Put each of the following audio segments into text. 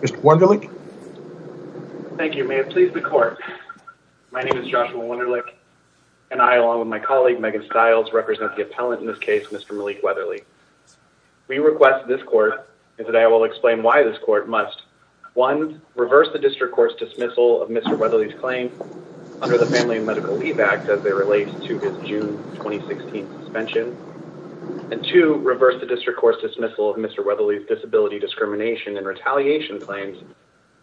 Mr. Wunderlich. Thank you, may it please the court. My name is Joshua Wunderlich and I, along with my colleague Megan Stiles, represent the appellant in this case, Mr. Malik Weatherly. We request this court, and today I will explain why this court must, one, reverse the district court's dismissal of Mr. Weatherly's claim under the Family and Medical Leave Act as they relate to his June 2016 suspension, and two, reverse the district court's dismissal of Mr. Weatherly's retaliation claims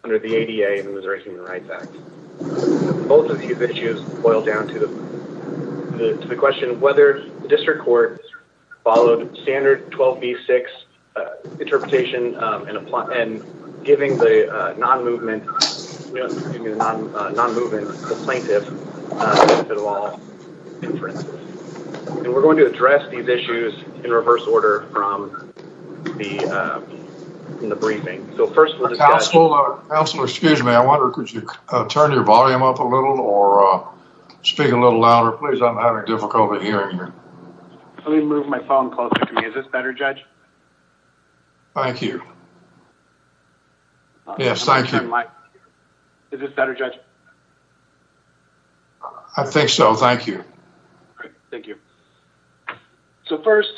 under the ADA and the Missouri Human Rights Act. Both of these issues boil down to the question of whether the district court followed standard 12b-6 interpretation and giving the non-movement plaintiff the benefit of all inferences. And we're going to address these issues in reverse order from the briefing. So first, we'll discuss- Counselor, excuse me. I wonder, could you turn your volume up a little or speak a little louder? Please, I'm having difficulty hearing you. Let me move my phone closer to me. Is this better, Judge? Thank you. Yes, thank you. Is this better, Judge? I think so, thank you. Great, thank you. So first,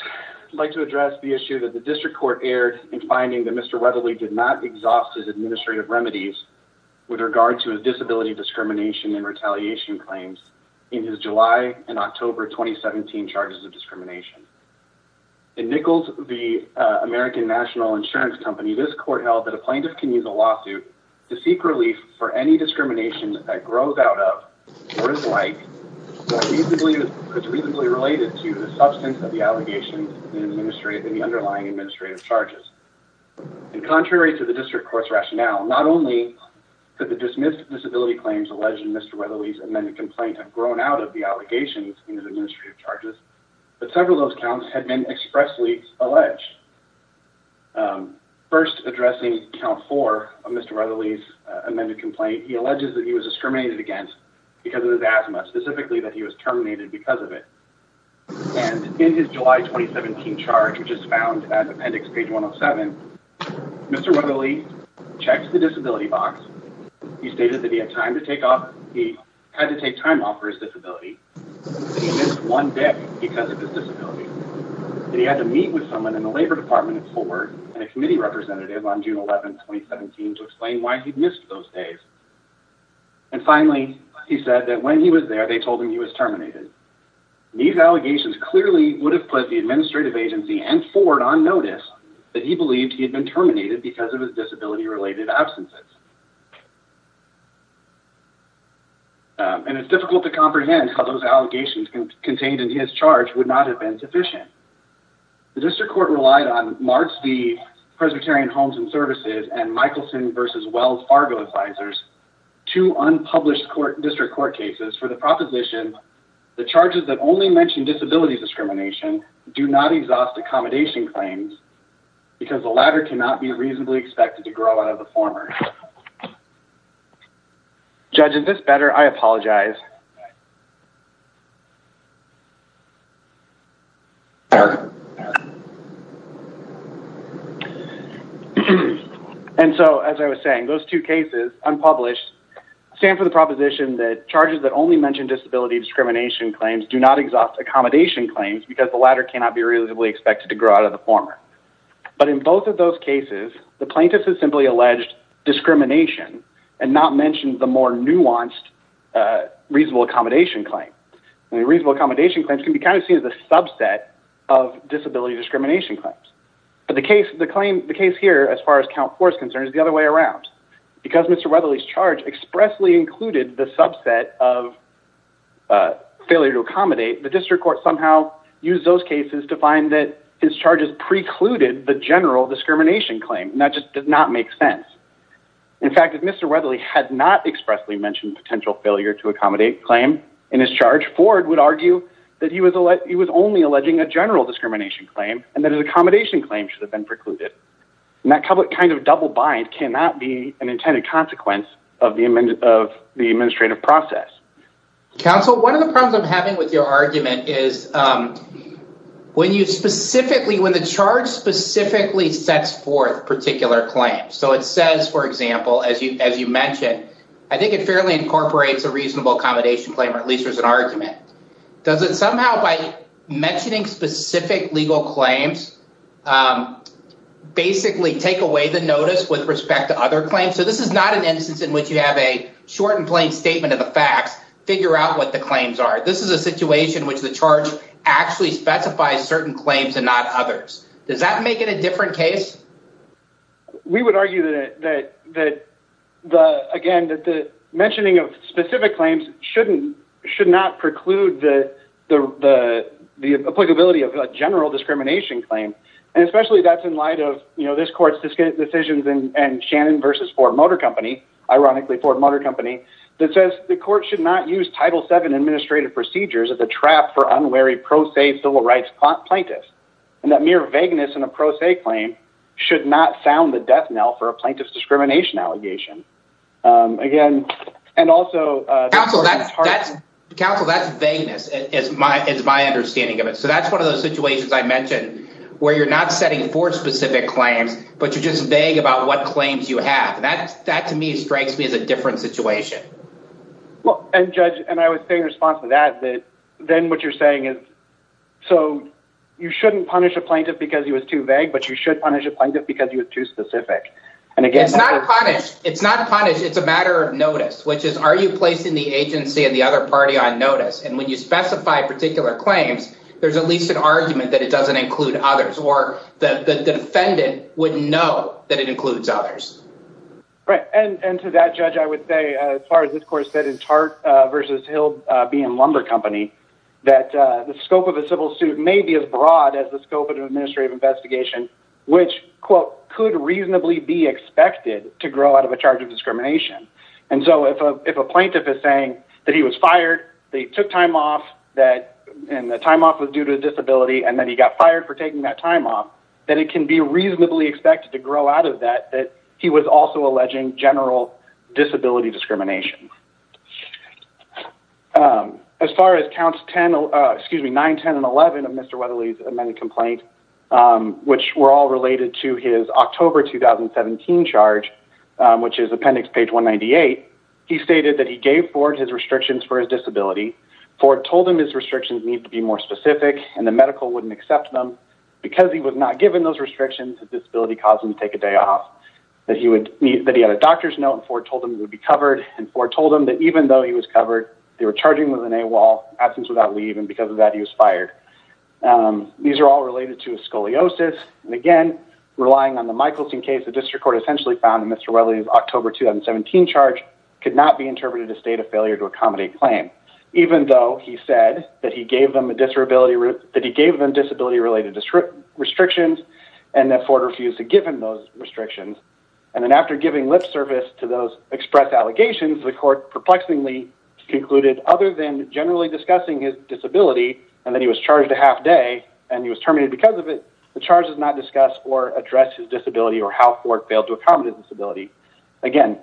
I'd like to address the issue that the district court aired in finding that Mr. Weatherly did not exhaust his administrative remedies with regard to his disability discrimination and retaliation claims in his July and October 2017 charges of discrimination. In Nichols v. American National Insurance Company, this court held that a plaintiff can use a lawsuit to seek relief for any discrimination that grows out of or is like or could be reasonably related to the substance of the allegations in the underlying administrative charges. And contrary to the district court's rationale, not only did the dismissed disability claims alleged in Mr. Weatherly's amended complaint have grown out of the allegations in his administrative charges, but several of those counts had been expressly alleged. First, addressing count four of Mr. Weatherly's amended complaint, he alleges that he was discriminated against because of his asthma, specifically that he was terminated because of it. And in his July 2017 charge, which is found at appendix page 107, Mr. Weatherly checked the disability box. He stated that he had time to take off, he had to take time off for his disability. He missed one day because of his disability. And he had to meet with someone in the later days department at Ford and a committee representative on June 11th, 2017 to explain why he'd missed those days. And finally, he said that when he was there, they told him he was terminated. These allegations clearly would have put the administrative agency and Ford on notice that he believed he had been terminated because of his disability related absences. And it's difficult to comprehend how those allegations contained in his charge would not have been sufficient. The district court relied on March the Presbyterian Homes and Services and Michaelson versus Wells Fargo advisors to unpublished court district court cases for the proposition. The charges that only mentioned disability discrimination do not exhaust accommodation claims because the latter cannot be reasonably expected to grow out of the former. Judge, is this better? I apologize. Eric? And so as I was saying, those two cases unpublished stand for the proposition that charges that only mentioned disability discrimination claims do not exhaust accommodation claims because the latter cannot be reasonably expected to grow out of the former. But in both of those cases, the plaintiff has simply alleged discrimination and not mentioned the more nuanced reasonable accommodation claim. And the reasonable accommodation claims can be seen as a subset of disability discrimination claims. But the case here as far as count force concerns is the other way around. Because Mr. Wethely's charge expressly included the subset of failure to accommodate, the district court somehow used those cases to find that his charges precluded the general discrimination claim. And that just did not make sense. In fact, if Mr. Wethely had not expressly mentioned potential failure to accommodate claim in his charge, Ford would argue that he was only alleging a general discrimination claim and that an accommodation claim should have been precluded. And that kind of double bind cannot be an intended consequence of the administrative process. Counsel, one of the problems I'm having with your argument is when you specifically, when the charge specifically sets forth particular claims. So it says, for example, as you mentioned, I think it fairly incorporates a reasonable accommodation claim, or at least there's an argument. Does it somehow by mentioning specific legal claims, basically take away the notice with respect to other claims? So this is not an instance in which you have a short and plain statement of the facts, figure out what the claims are. This is a situation which the charge actually specifies certain claims and not others. Does that make it a different case? We would argue that the, again, that the mentioning of specific claims shouldn't, should not preclude the applicability of a general discrimination claim. And especially that's in light of, you know, this court's decisions and Shannon versus Ford Motor Company, ironically Ford Motor Company, that says the court should not use Title VII administrative procedures as a trap for unwary pro se civil rights plaintiffs. And that mere vagueness in a pro se claim should not sound the death knell for a plaintiff's discrimination allegation. Again, and also- Counsel, that's vagueness is my, it's my understanding of it. So that's one of those situations I mentioned where you're not setting forth specific claims, but you're just vague about what claims you have. That to me strikes me as a different situation. Well, and judge, and I would say in response to that, that then what you're saying is, so you shouldn't punish a plaintiff because he was too vague, but you should punish a plaintiff because he was too specific. And again- It's not punished. It's not punished. It's a matter of notice, which is, are you placing the agency and the other party on notice? And when you specify particular claims, there's at least an argument that it doesn't include others or the defendant wouldn't know that it includes others. Right. And to that judge, I would say as far as this court said in Tart versus Hill being Lumber Company, that the scope of a civil suit may be as broad as the scope of an administrative investigation, which quote, could reasonably be expected to grow out of a charge of discrimination. And so if a plaintiff is saying that he was fired, they took time off that, and the time off was due to disability, and then he got fired for taking that time off, then it can be reasonably expected to grow out of that, that he was also alleging general disability discrimination. As far as counts 10, excuse me, 9, 10, and 11 of Mr. Weatherly's amended complaint, which were all related to his October 2017 charge, which is appendix page 198, he stated that he gave Ford his restrictions for his disability. Ford told him his restrictions need to be more specific and the medical wouldn't accept them. Because he was not given those restrictions, his disability caused him to take a day off, that he had a doctor's note and Ford told him he would be covered, and Ford told him that even though he was covered, they were charging him with an AWOL, absence without leave, and because of that, he was fired. These are all related to scoliosis, and again, relying on the Michelson case, the district court essentially found that Mr. Weatherly's October 2017 charge could not be interpreted as a state of failure to accommodate claim, even though he said that he gave them disability-related restrictions and that Ford refused to give him those restrictions, and then after giving lip service to those express allegations, the court perplexingly concluded other than generally discussing his disability and that he was charged a half day and he was terminated because of it, the charge does not discuss or address his disability or how Ford failed to accommodate his disability. Again,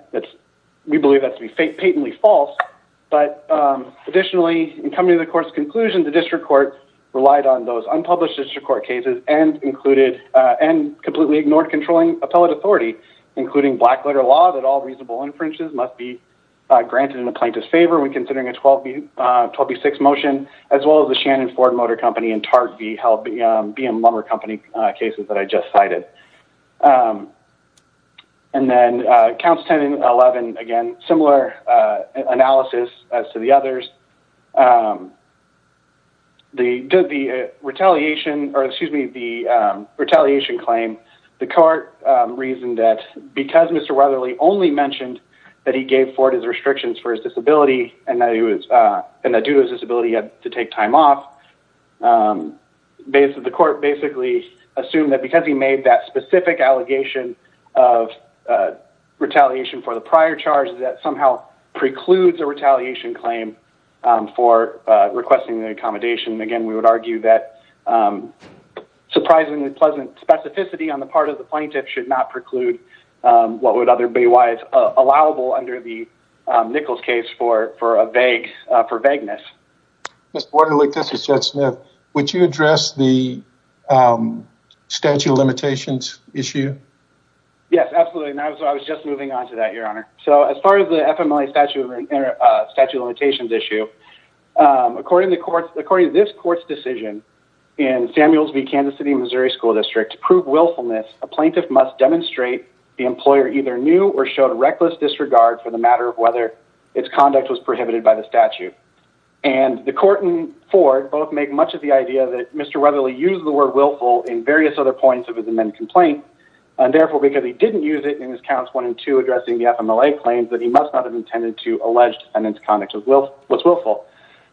we believe that to be patently false, but additionally, in coming to the court's conclusion, the district court relied on those unpublished district court cases and included and completely ignored controlling appellate authority, including black letter law that all reasonable inferences must be granted in the plaintiff's favor when considering a 12B6 motion, as well as the Shannon Ford Motor Company and TARP-V held BMW company cases that I just cited. And then, Council Tenant 11, again, similar analysis as to the others. The retaliation, or excuse me, the retaliation claim, the court reasoned that because Mr. Weatherly only mentioned that he gave Ford his restrictions for his disability and that due to his disability he had to take time off, the court basically assumed that because he made that specific allegation of retaliation for the prior charge, that somehow precludes a retaliation claim for requesting the accommodation. Again, we would argue that surprisingly pleasant specificity on the part of the plaintiff should not preclude what would otherwise be allowable under the for vagueness. Mr. Weatherly, this is Chet Smith. Would you address the statute of limitations issue? Yes, absolutely, and I was just moving on to that, Your Honor. So, as far as the FMLA statute of limitations issue, according to this court's decision in Samuels v. Kansas City, Missouri School District, to prove willfulness, a plaintiff must demonstrate the employer either knew or showed reckless disregard for the matter of whether its conduct was prohibited by the statute. And the court and Ford both make much of the idea that Mr. Weatherly used the word willful in various other points of his amended complaint, and therefore because he didn't use it in his counts 1 and 2 addressing the FMLA claims that he must not have intended to allege defendant's conduct was willful.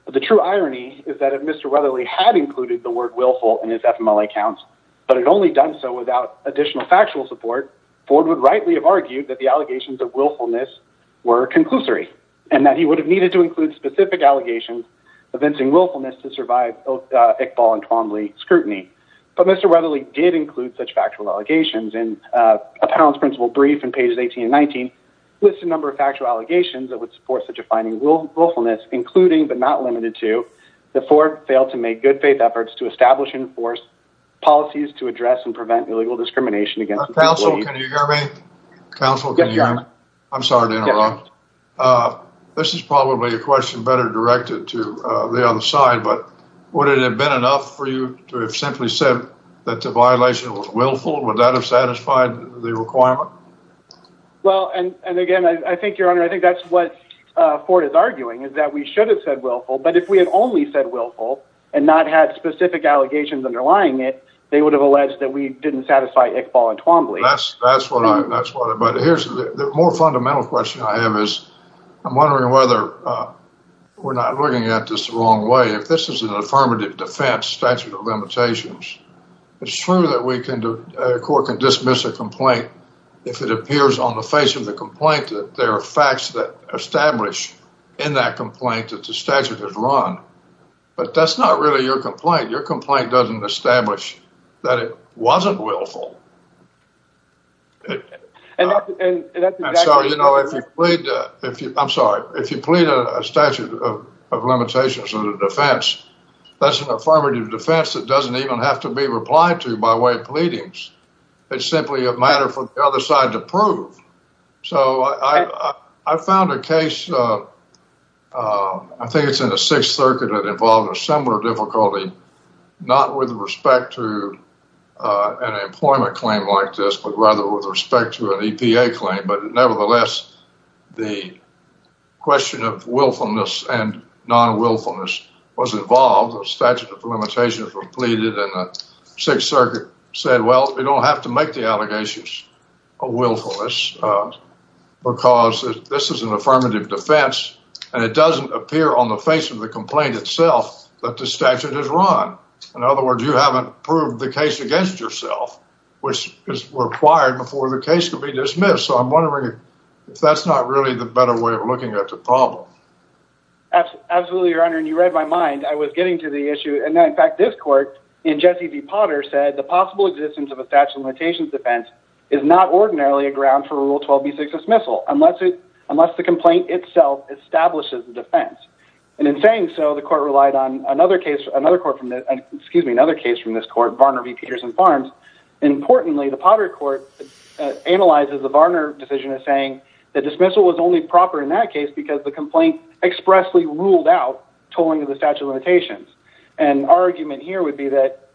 But the true irony is that if Mr. Weatherly had included the word willful in his FMLA counts, but had only done so without additional factual support, Ford would rightly have argued that the allegations of willfulness were conclusory, and that he would have needed to include specific allegations evincing willfulness to survive both Iqbal and Twombly scrutiny. But Mr. Weatherly did include such factual allegations in a Pound's principle brief in pages 18 and 19, lists a number of factual allegations that would support such a finding willfulness, including but not limited to that Ford failed to make good faith efforts to establish and enforce policies to address and I'm sorry to interrupt. This is probably a question better directed to the other side, but would it have been enough for you to have simply said that the violation was willful? Would that have satisfied the requirement? Well, and again, I think your honor, I think that's what Ford is arguing is that we should have said willful, but if we had only said willful and not had specific allegations underlying it, they would have alleged that we didn't satisfy Iqbal and Twombly. That's what I, that's what, but here's the more fundamental question I have is I'm wondering whether we're not looking at this the wrong way. If this is an affirmative defense statute of limitations, it's true that we can do, a court can dismiss a complaint if it appears on the face of the complaint that there are facts that establish in that complaint that the statute is wrong, but that's not really your complaint. Your complaint doesn't establish that it wasn't willful. And so, you know, if you plead, if you, I'm sorry, if you plead a statute of limitations of the defense, that's an affirmative defense that doesn't even have to be replied to by way of pleadings. It's simply a matter for the other side to prove. So I found a case, I think it's in Sixth Circuit that involved a similar difficulty, not with respect to an employment claim like this, but rather with respect to an EPA claim. But nevertheless, the question of willfulness and non-willfulness was involved. A statute of limitations was pleaded and the Sixth Circuit said, well, we don't have to make the allegations of willfulness because this is an affirmative defense and it doesn't appear on the face of the complaint itself that the statute is wrong. In other words, you haven't proved the case against yourself, which is required before the case can be dismissed. So I'm wondering if that's not really the better way of looking at the problem. Absolutely, Your Honor. And you read my mind. I was getting to the issue. And in fact, this court in Jesse v. Potter said the possible existence of a statute of limitations defense is not ordinarily a ground for Rule 12b6 dismissal unless the complaint itself establishes the defense. And in saying so, the court relied on another case from this court, Varner v. Peters and Farms. Importantly, the Potter court analyzes the Varner decision as saying the dismissal was only proper in that case because the complaint expressly ruled out tolling of the statute of limitations. And our argument here would be that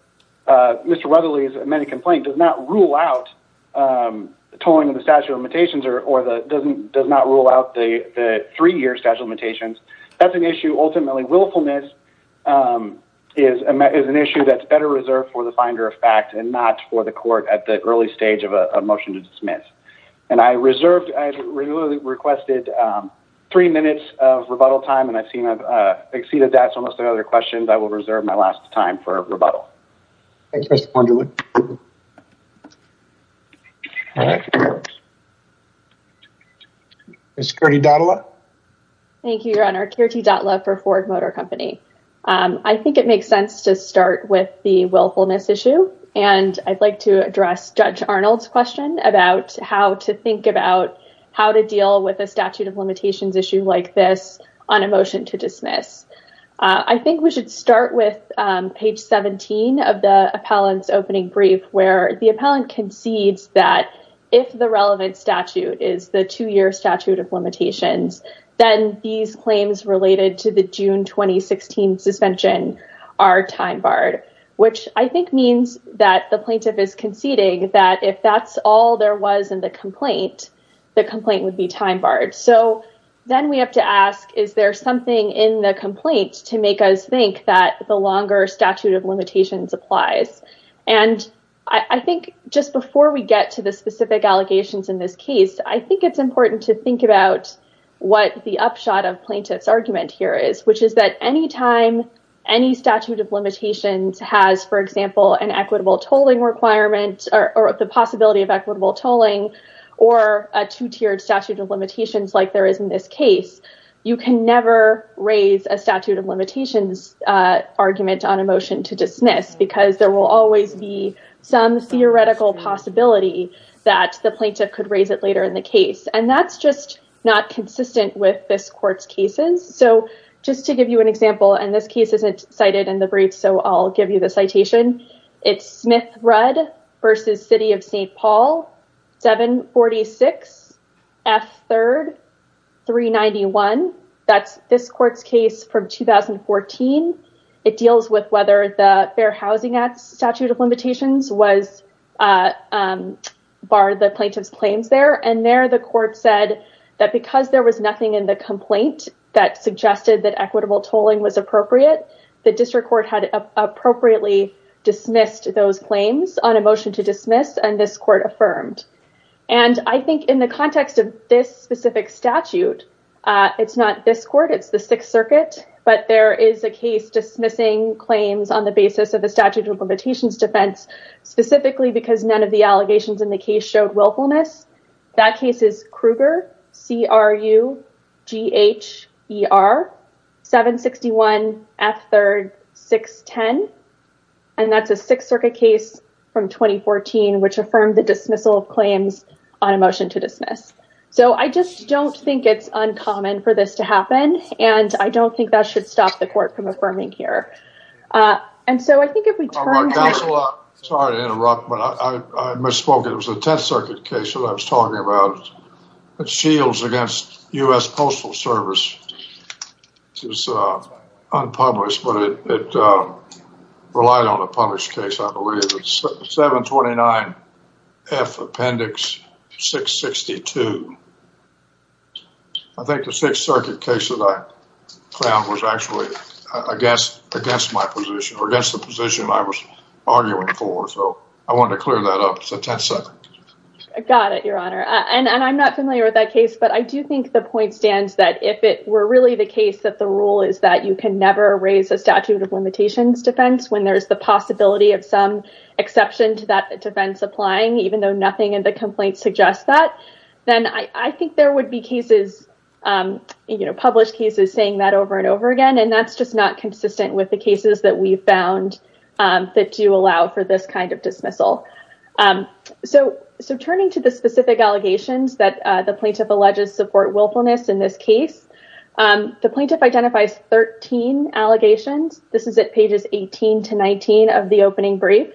Mr. Weatherly's amended complaint does not rule out tolling of the statute of limitations or does not rule out the three-year statute of limitations. That's an issue ultimately willfulness is an issue that's better reserved for the finder of fact and not for the court at the early stage of a motion to dismiss. And I reserved, I requested three minutes of rebuttal time and I've seen I've exceeded that. So unless there are other questions, I will reserve my last time for rebuttal. Thanks, Mr. Ponderwood. Thank you, Your Honor. Kirti Datla for Ford Motor Company. I think it makes sense to start with the willfulness issue and I'd like to address Judge Arnold's question about how to think about how to deal with a statute of limitations issue like this on a motion to dismiss. I think we should start with page 17 of the appellant's opening brief where the appellant concedes that if the relevant statute is the two-year statute of limitations, then these claims related to the June 2016 suspension are time barred, which I think means that the plaintiff is conceding that if that's all there was in the complaint, the complaint would be time barred. So then we have to ask, is there something in the complaint to make us think that the longer statute of limitations in this case, I think it's important to think about what the upshot of plaintiff's argument here is, which is that any time any statute of limitations has, for example, an equitable tolling requirement or the possibility of equitable tolling or a two-tiered statute of limitations like there is in this case, you can never raise a statute of limitations argument on to dismiss because there will always be some theoretical possibility that the plaintiff could raise it later in the case. And that's just not consistent with this court's cases. So just to give you an example, and this case isn't cited in the brief, so I'll give you the citation. It's Smith-Rudd v. City of St. Paul, 746 F. 3rd, 391. That's this court's case from 2014. It deals with whether the Fair Housing Act statute of limitations was barred the plaintiff's claims there. And there the court said that because there was nothing in the complaint that suggested that equitable tolling was appropriate, the district court had appropriately dismissed those claims on a motion to dismiss and this court affirmed. And I think in the context of this specific statute, it's not this court, it's the Sixth Circuit case dismissing claims on the basis of the statute of limitations defense, specifically because none of the allegations in the case showed willfulness. That case is Kruger, C. R. U. G. H. E. R. 761 F. 3rd, 610. And that's a Sixth Circuit case from 2014, which affirmed the dismissal of claims on a motion to dismiss. So I just don't think it's common for this to happen. And I don't think that should stop the court from affirming here. And so I think if we turn... Counselor, sorry to interrupt, but I misspoke. It was the Tenth Circuit case that I was talking about. It's Shields against U.S. Postal Service. It's unpublished, but it relied on a published case, I believe. It's 729 F. Appendix 662. I think the Sixth Circuit case that I found was actually against my position or against the position I was arguing for. So I wanted to clear that up. It's the Tenth Circuit. I got it, Your Honor. And I'm not familiar with that case, but I do think the point stands that if it were really the case that the rule is that you can raise a statute of limitations defense when there's the possibility of some exception to that defense applying, even though nothing in the complaint suggests that, then I think there would be cases, published cases saying that over and over again, and that's just not consistent with the cases that we've found that do allow for this kind of dismissal. So turning to the specific allegations that the plaintiff alleges support willfulness in this case, the plaintiff identifies 13 allegations. This is at pages 18 to 19 of the opening brief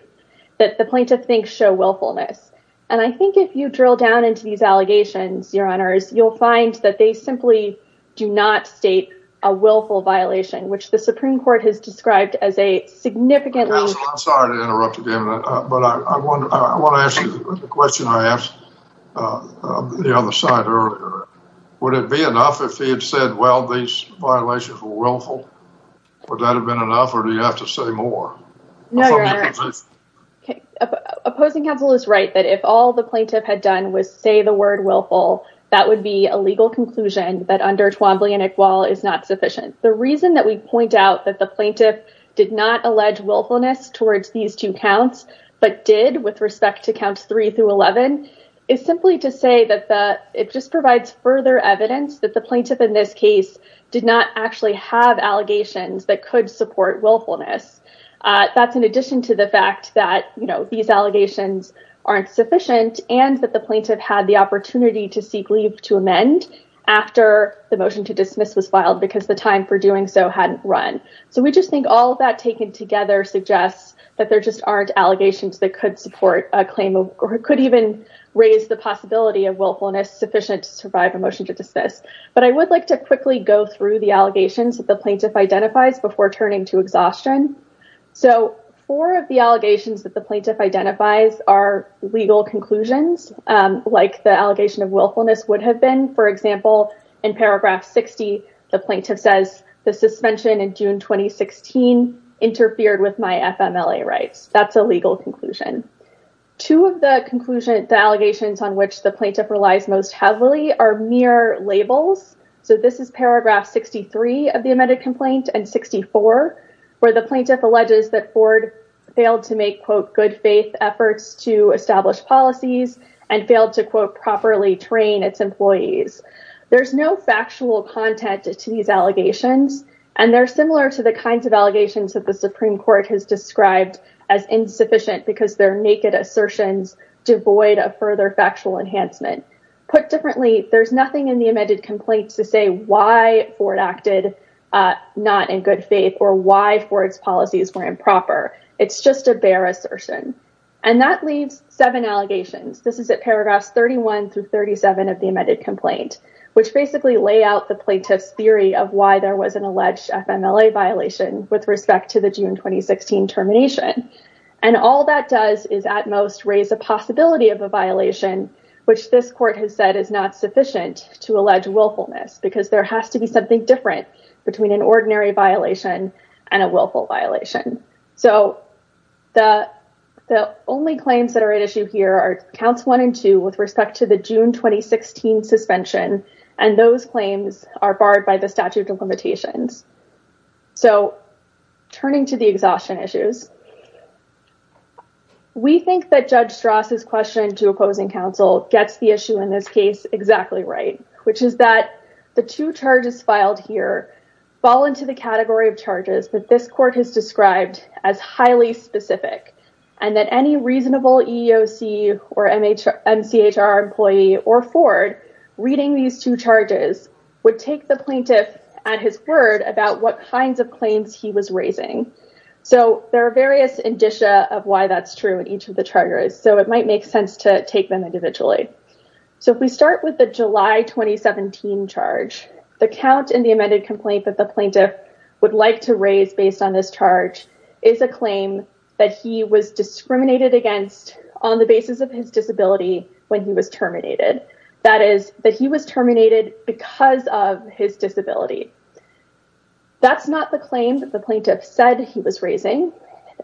that the plaintiff thinks show willfulness. And I think if you drill down into these allegations, Your Honors, you'll find that they simply do not state a willful violation, which the Supreme Court has described as a significantly... Counsel, I'm sorry to interrupt Would it be enough if he had said, well, these violations were willful? Would that have been enough or do you have to say more? No, Your Honor. Opposing counsel is right that if all the plaintiff had done was say the word willful, that would be a legal conclusion that under Twombly and Iqbal is not sufficient. The reason that we point out that the plaintiff did not allege willfulness towards these two counts, but did with respect to counts three through 11, is simply to say that it just provides further evidence that the plaintiff in this case did not actually have allegations that could support willfulness. That's in addition to the fact that, you know, these allegations aren't sufficient and that the plaintiff had the opportunity to seek leave to amend after the motion to dismiss was filed because the time for doing so hadn't run. So we just think all of that taken together suggests that there just aren't allegations that could support a claim or could even raise the possibility of willfulness sufficient to survive a motion to dismiss. But I would like to quickly go through the allegations that the plaintiff identifies before turning to exhaustion. So four of the allegations that the plaintiff identifies are legal conclusions, like the allegation of willfulness would have been, for example, in paragraph 60, the plaintiff says the suspension in June 2016 interfered with my FMLA rights. That's a legal conclusion. Two of the allegations on which the plaintiff relies most heavily are mere labels. So this is paragraph 63 of the amended complaint and 64, where the plaintiff alleges that Ford failed to make quote good faith efforts to establish policies and failed to quote properly train its employees. There's no factual content to these allegations and they're similar to the kinds of allegations that the Supreme Court has described as insufficient because they're naked assertions devoid of further factual enhancement. Put differently, there's nothing in the amended complaint to say why Ford acted not in good faith or why Ford's policies were improper. It's just a bare assertion. And that leaves seven allegations. This is at paragraphs 31 through 37 of the amended complaint, which basically lay out the plaintiff's theory of why there was an alleged FMLA violation with respect to the June 2016 termination. And all that does is at most raise the possibility of a violation, which this court has said is not sufficient to allege willfulness because there has to be something different between an ordinary violation and a willful violation. So the only claims that are at issue here are counts one and two with respect to the June 2016 suspension, and those claims are barred by the statute of limitations. So turning to the exhaustion issues, we think that Judge Strass's question to opposing counsel gets the issue in this case exactly right, which is that the two charges filed here fall into the category of charges that this court has described as highly specific, and that any reasonable EEOC or MCHR employee or Ford reading these two charges would take the plaintiff at his word about what kinds of claims he was raising. So there are various indicia of why that's true in each of the charges, so it might make sense to take them individually. So if we start with the July 2017 charge, the count in the amended complaint that the plaintiff would like to raise based on this charge is a claim that he was discriminated against on the basis of his disability when he was terminated. That is, that he was terminated because of his disability. That's not the claim that the plaintiff said he was raising.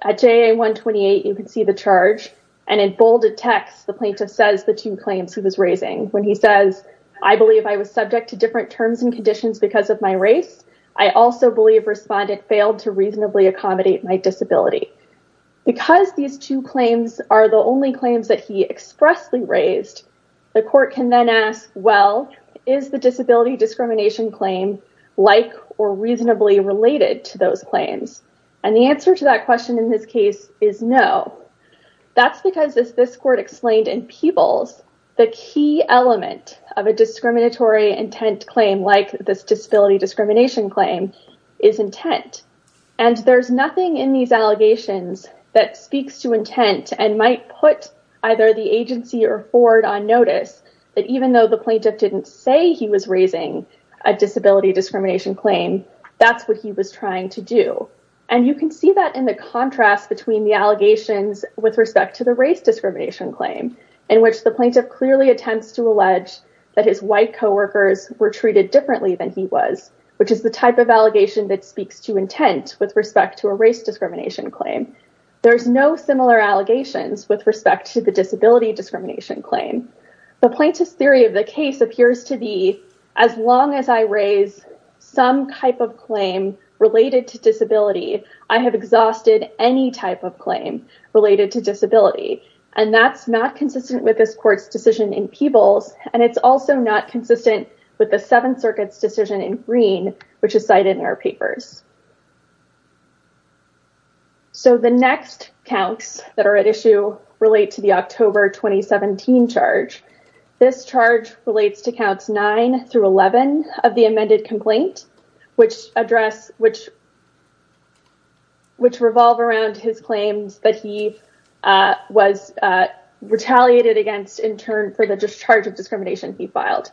At JA128, you can see the charge, and in bolded text, the plaintiff says the two claims he was raising when he says, I believe I was subject to different terms and conditions because of my race. I also believe Respondent failed to reasonably accommodate my disability. Because these two claims are the only claims that he expressly raised, the court can then ask, well, is the disability discrimination claim like or reasonably related to those claims? And the answer to that question in this case is no. That's because, as this court explained in the case, a discriminatory intent claim like this disability discrimination claim is intent. And there's nothing in these allegations that speaks to intent and might put either the agency or Ford on notice that even though the plaintiff didn't say he was raising a disability discrimination claim, that's what he was trying to do. And you can see that in the contrast between the allegations with respect to the race discrimination claim, in which the plaintiff clearly attempts to his white co-workers were treated differently than he was, which is the type of allegation that speaks to intent with respect to a race discrimination claim. There's no similar allegations with respect to the disability discrimination claim. The plaintiff's theory of the case appears to be, as long as I raise some type of claim related to disability, I have exhausted any type of claim related to disability. And that's not consistent with this decision in Peebles, and it's also not consistent with the Seventh Circuit's decision in Green, which is cited in our papers. So, the next counts that are at issue relate to the October 2017 charge. This charge relates to counts 9 through 11 of the amended complaint, which address which revolve around his claims that he was retaliated against in turn for the discharge of discrimination he filed.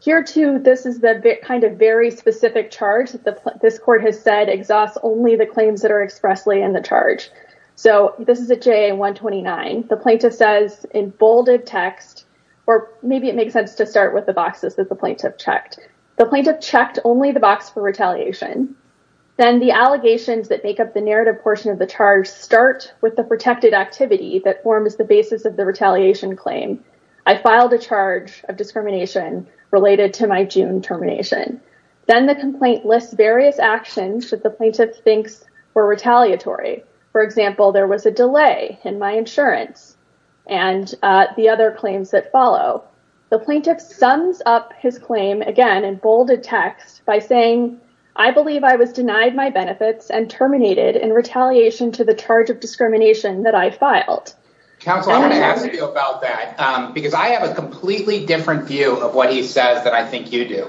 Here too, this is the kind of very specific charge that this court has said exhausts only the claims that are expressly in the charge. So, this is a JA-129. The plaintiff says in bolded text, or maybe it makes sense to start with the boxes that the plaintiff checked, the plaintiff portion of the charge start with the protected activity that forms the basis of the retaliation claim. I filed a charge of discrimination related to my June termination. Then the complaint lists various actions that the plaintiff thinks were retaliatory. For example, there was a delay in my insurance and the other claims that follow. The plaintiff sums up his claim again in bolded text by saying, I believe I was denied my benefits and terminated in retaliation to the charge of discrimination that I filed. Counsel, I'm going to ask you about that because I have a completely different view of what he says that I think you do,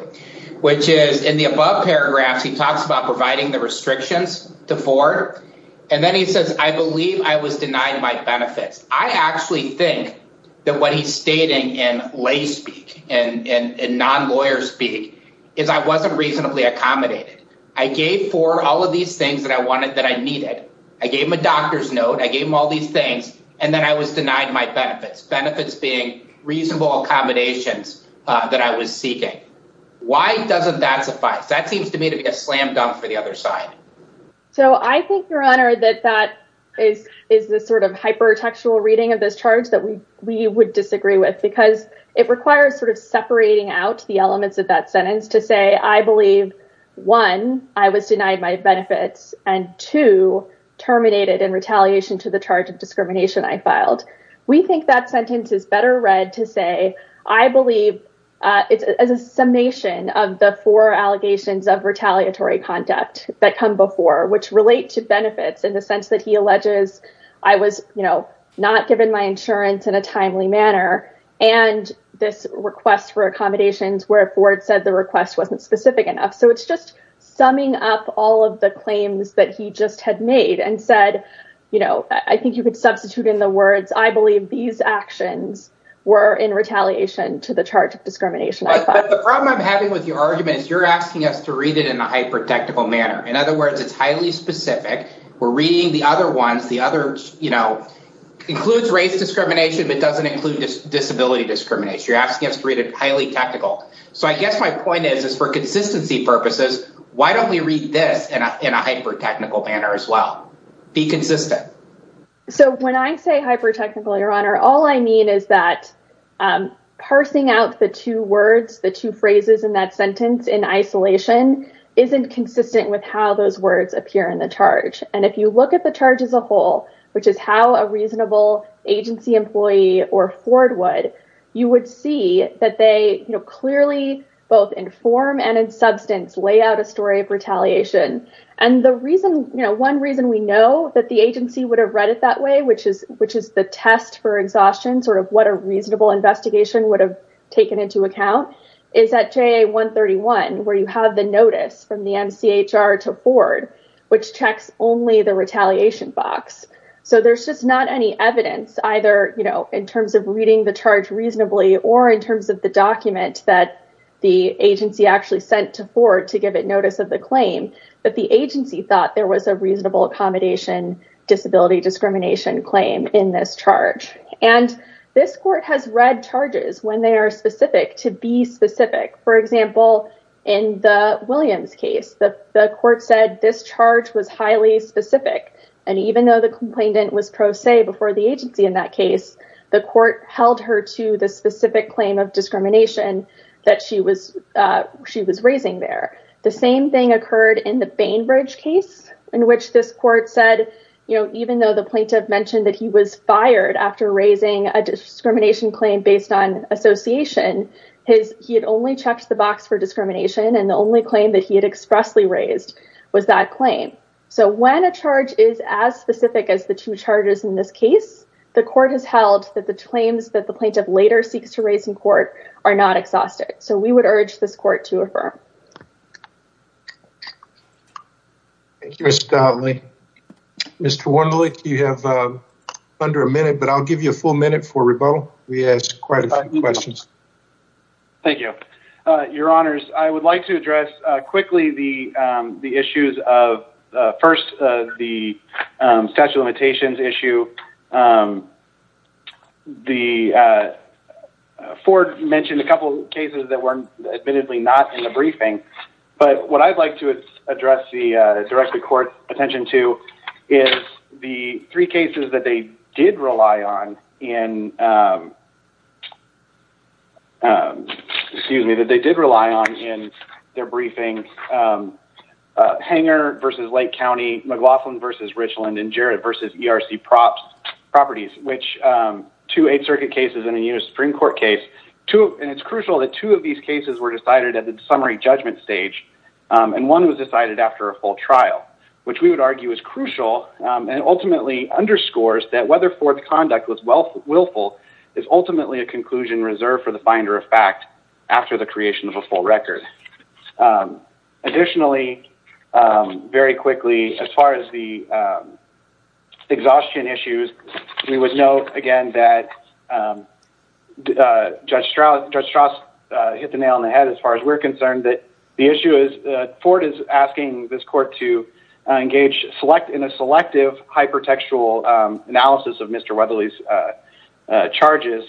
which is in the above paragraphs, he talks about providing the restrictions to Ford. And then he says, I believe I was denied my benefits. I actually think that what he's stating in lay speak and non-lawyer speak is I wasn't reasonably accommodated. I gave Ford all of these things that I wanted, that I needed. I gave him a doctor's note. I gave him all these things. And then I was denied my benefits, benefits being reasonable accommodations that I was seeking. Why doesn't that suffice? That seems to me to be a slam dunk for the other side. So I think your honor, that that is, is the sort of hypertextual reading of this charge that we, we would disagree with because it requires sort of separating out the elements of that sentence to say, I believe one, I was denied my benefits and two terminated in retaliation to the charge of discrimination I filed. We think that sentence is better read to say, I believe it's as a summation of the four allegations of retaliatory conduct that come before, which relate to benefits in the sense that he alleges I was not given my insurance in a timely manner and this request for accommodations where Ford said the request wasn't specific enough. So it's just summing up all of the claims that he just had made and said, I think you could substitute in the words, I believe these actions were in retaliation to the charge of discrimination. The problem I'm having with your argument is you're asking us to read it in a hypertextual manner. In other words, it's highly specific. We're reading the other ones, the other, you know, includes race discrimination, but doesn't include disability discrimination. You're asking us to read it highly technical. So I guess my point is, is for consistency purposes, why don't we read this in a hyper technical manner as well? Be consistent. So when I say hyper technical, your honor, all I mean is that parsing out the two words, the two phrases in that sentence in isolation isn't consistent with how those words appear in the charge. And if you look at the charge as a whole, which is how a reasonable agency employee or Ford would, you would see that they, you know, clearly both in form and in substance lay out a story of retaliation. And the reason, you know, one reason we know that the agency would have read it that way, which is, which is the test for exhaustion, sort of what a reasonable investigation would have taken into account is at JA 131, where you have the notice from the MCHR to Ford, which checks only the retaliation box. So there's just not any evidence either, you know, in terms of reading the charge reasonably, or in terms of the document that the agency actually sent to Ford to give it notice of the claim that the agency thought there was a reasonable accommodation, disability discrimination claim in this charge. And this court has read charges when they are specific to be specific. For example, in the Williams case, the court said this charge was highly specific. And even though the complainant was pro se before the agency in that case, the court held her to the specific claim of discrimination that she was, she was raising there. The same thing occurred in the mentioned that he was fired after raising a discrimination claim based on association, his he had only checked the box for discrimination. And the only claim that he had expressly raised was that claim. So when a charge is as specific as the two charges in this case, the court has held that the claims that the plaintiff later seeks to raise in court are not exhausted. So we would urge this court to affirm. Thank you, Mr. Hotley. Mr. Wendelick, you have under a minute, but I'll give you a full minute for rebuttal. We asked quite a few questions. Thank you, your honors. I would like to address quickly the, the issues of first, the statute of limitations issue. The Ford mentioned a couple of cases that weren't admittedly not in the briefing, but what I'd like to address the direct the court attention to is the three cases that they did rely on in excuse me, that they did rely on in their briefing. Hanger versus Lake County McLaughlin versus Richland and Jared versus ERC props properties, which two eight circuit cases in a unit of Supreme court case, two, and it's crucial that two of these cases were decided at the summary judgment stage. And one was decided after a full trial, which we would argue is crucial. And ultimately underscores that whether fourth conduct was wealth willful is ultimately a conclusion reserved for the finder of fact after the creation of a full record. Additionally, very quickly, as far as the exhaustion issues, we would know, again, that judge Strauss hit the nail on the head as far as we're concerned that the issue is Ford is asking this court to engage select in a selective hypertextual analysis of Mr. Weatherly's charges.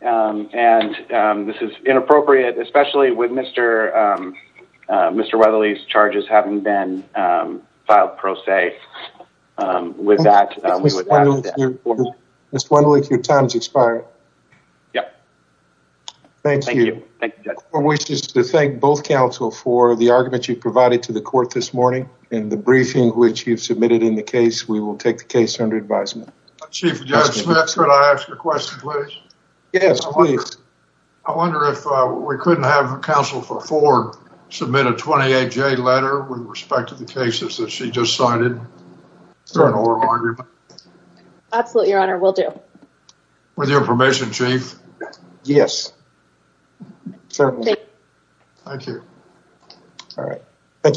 And this is inappropriate, especially with Mr. Weatherly's charges haven't been filed pro se with that. Mr. Weatherly, your time's expired. Yep. Thank you. I wish to thank both counsel for the argument you provided to the court this morning in the briefing, which you've submitted in the case, we will take the case under advisement. Chief Judge Smith, could I ask a question, please? Yes, please. I wonder if we couldn't have counsel for Ford submit a 28-J letter with respect to the cases that she just cited. Absolutely, your honor, we'll do. With your permission, chief. Yes. Thank you. All right. Thank you.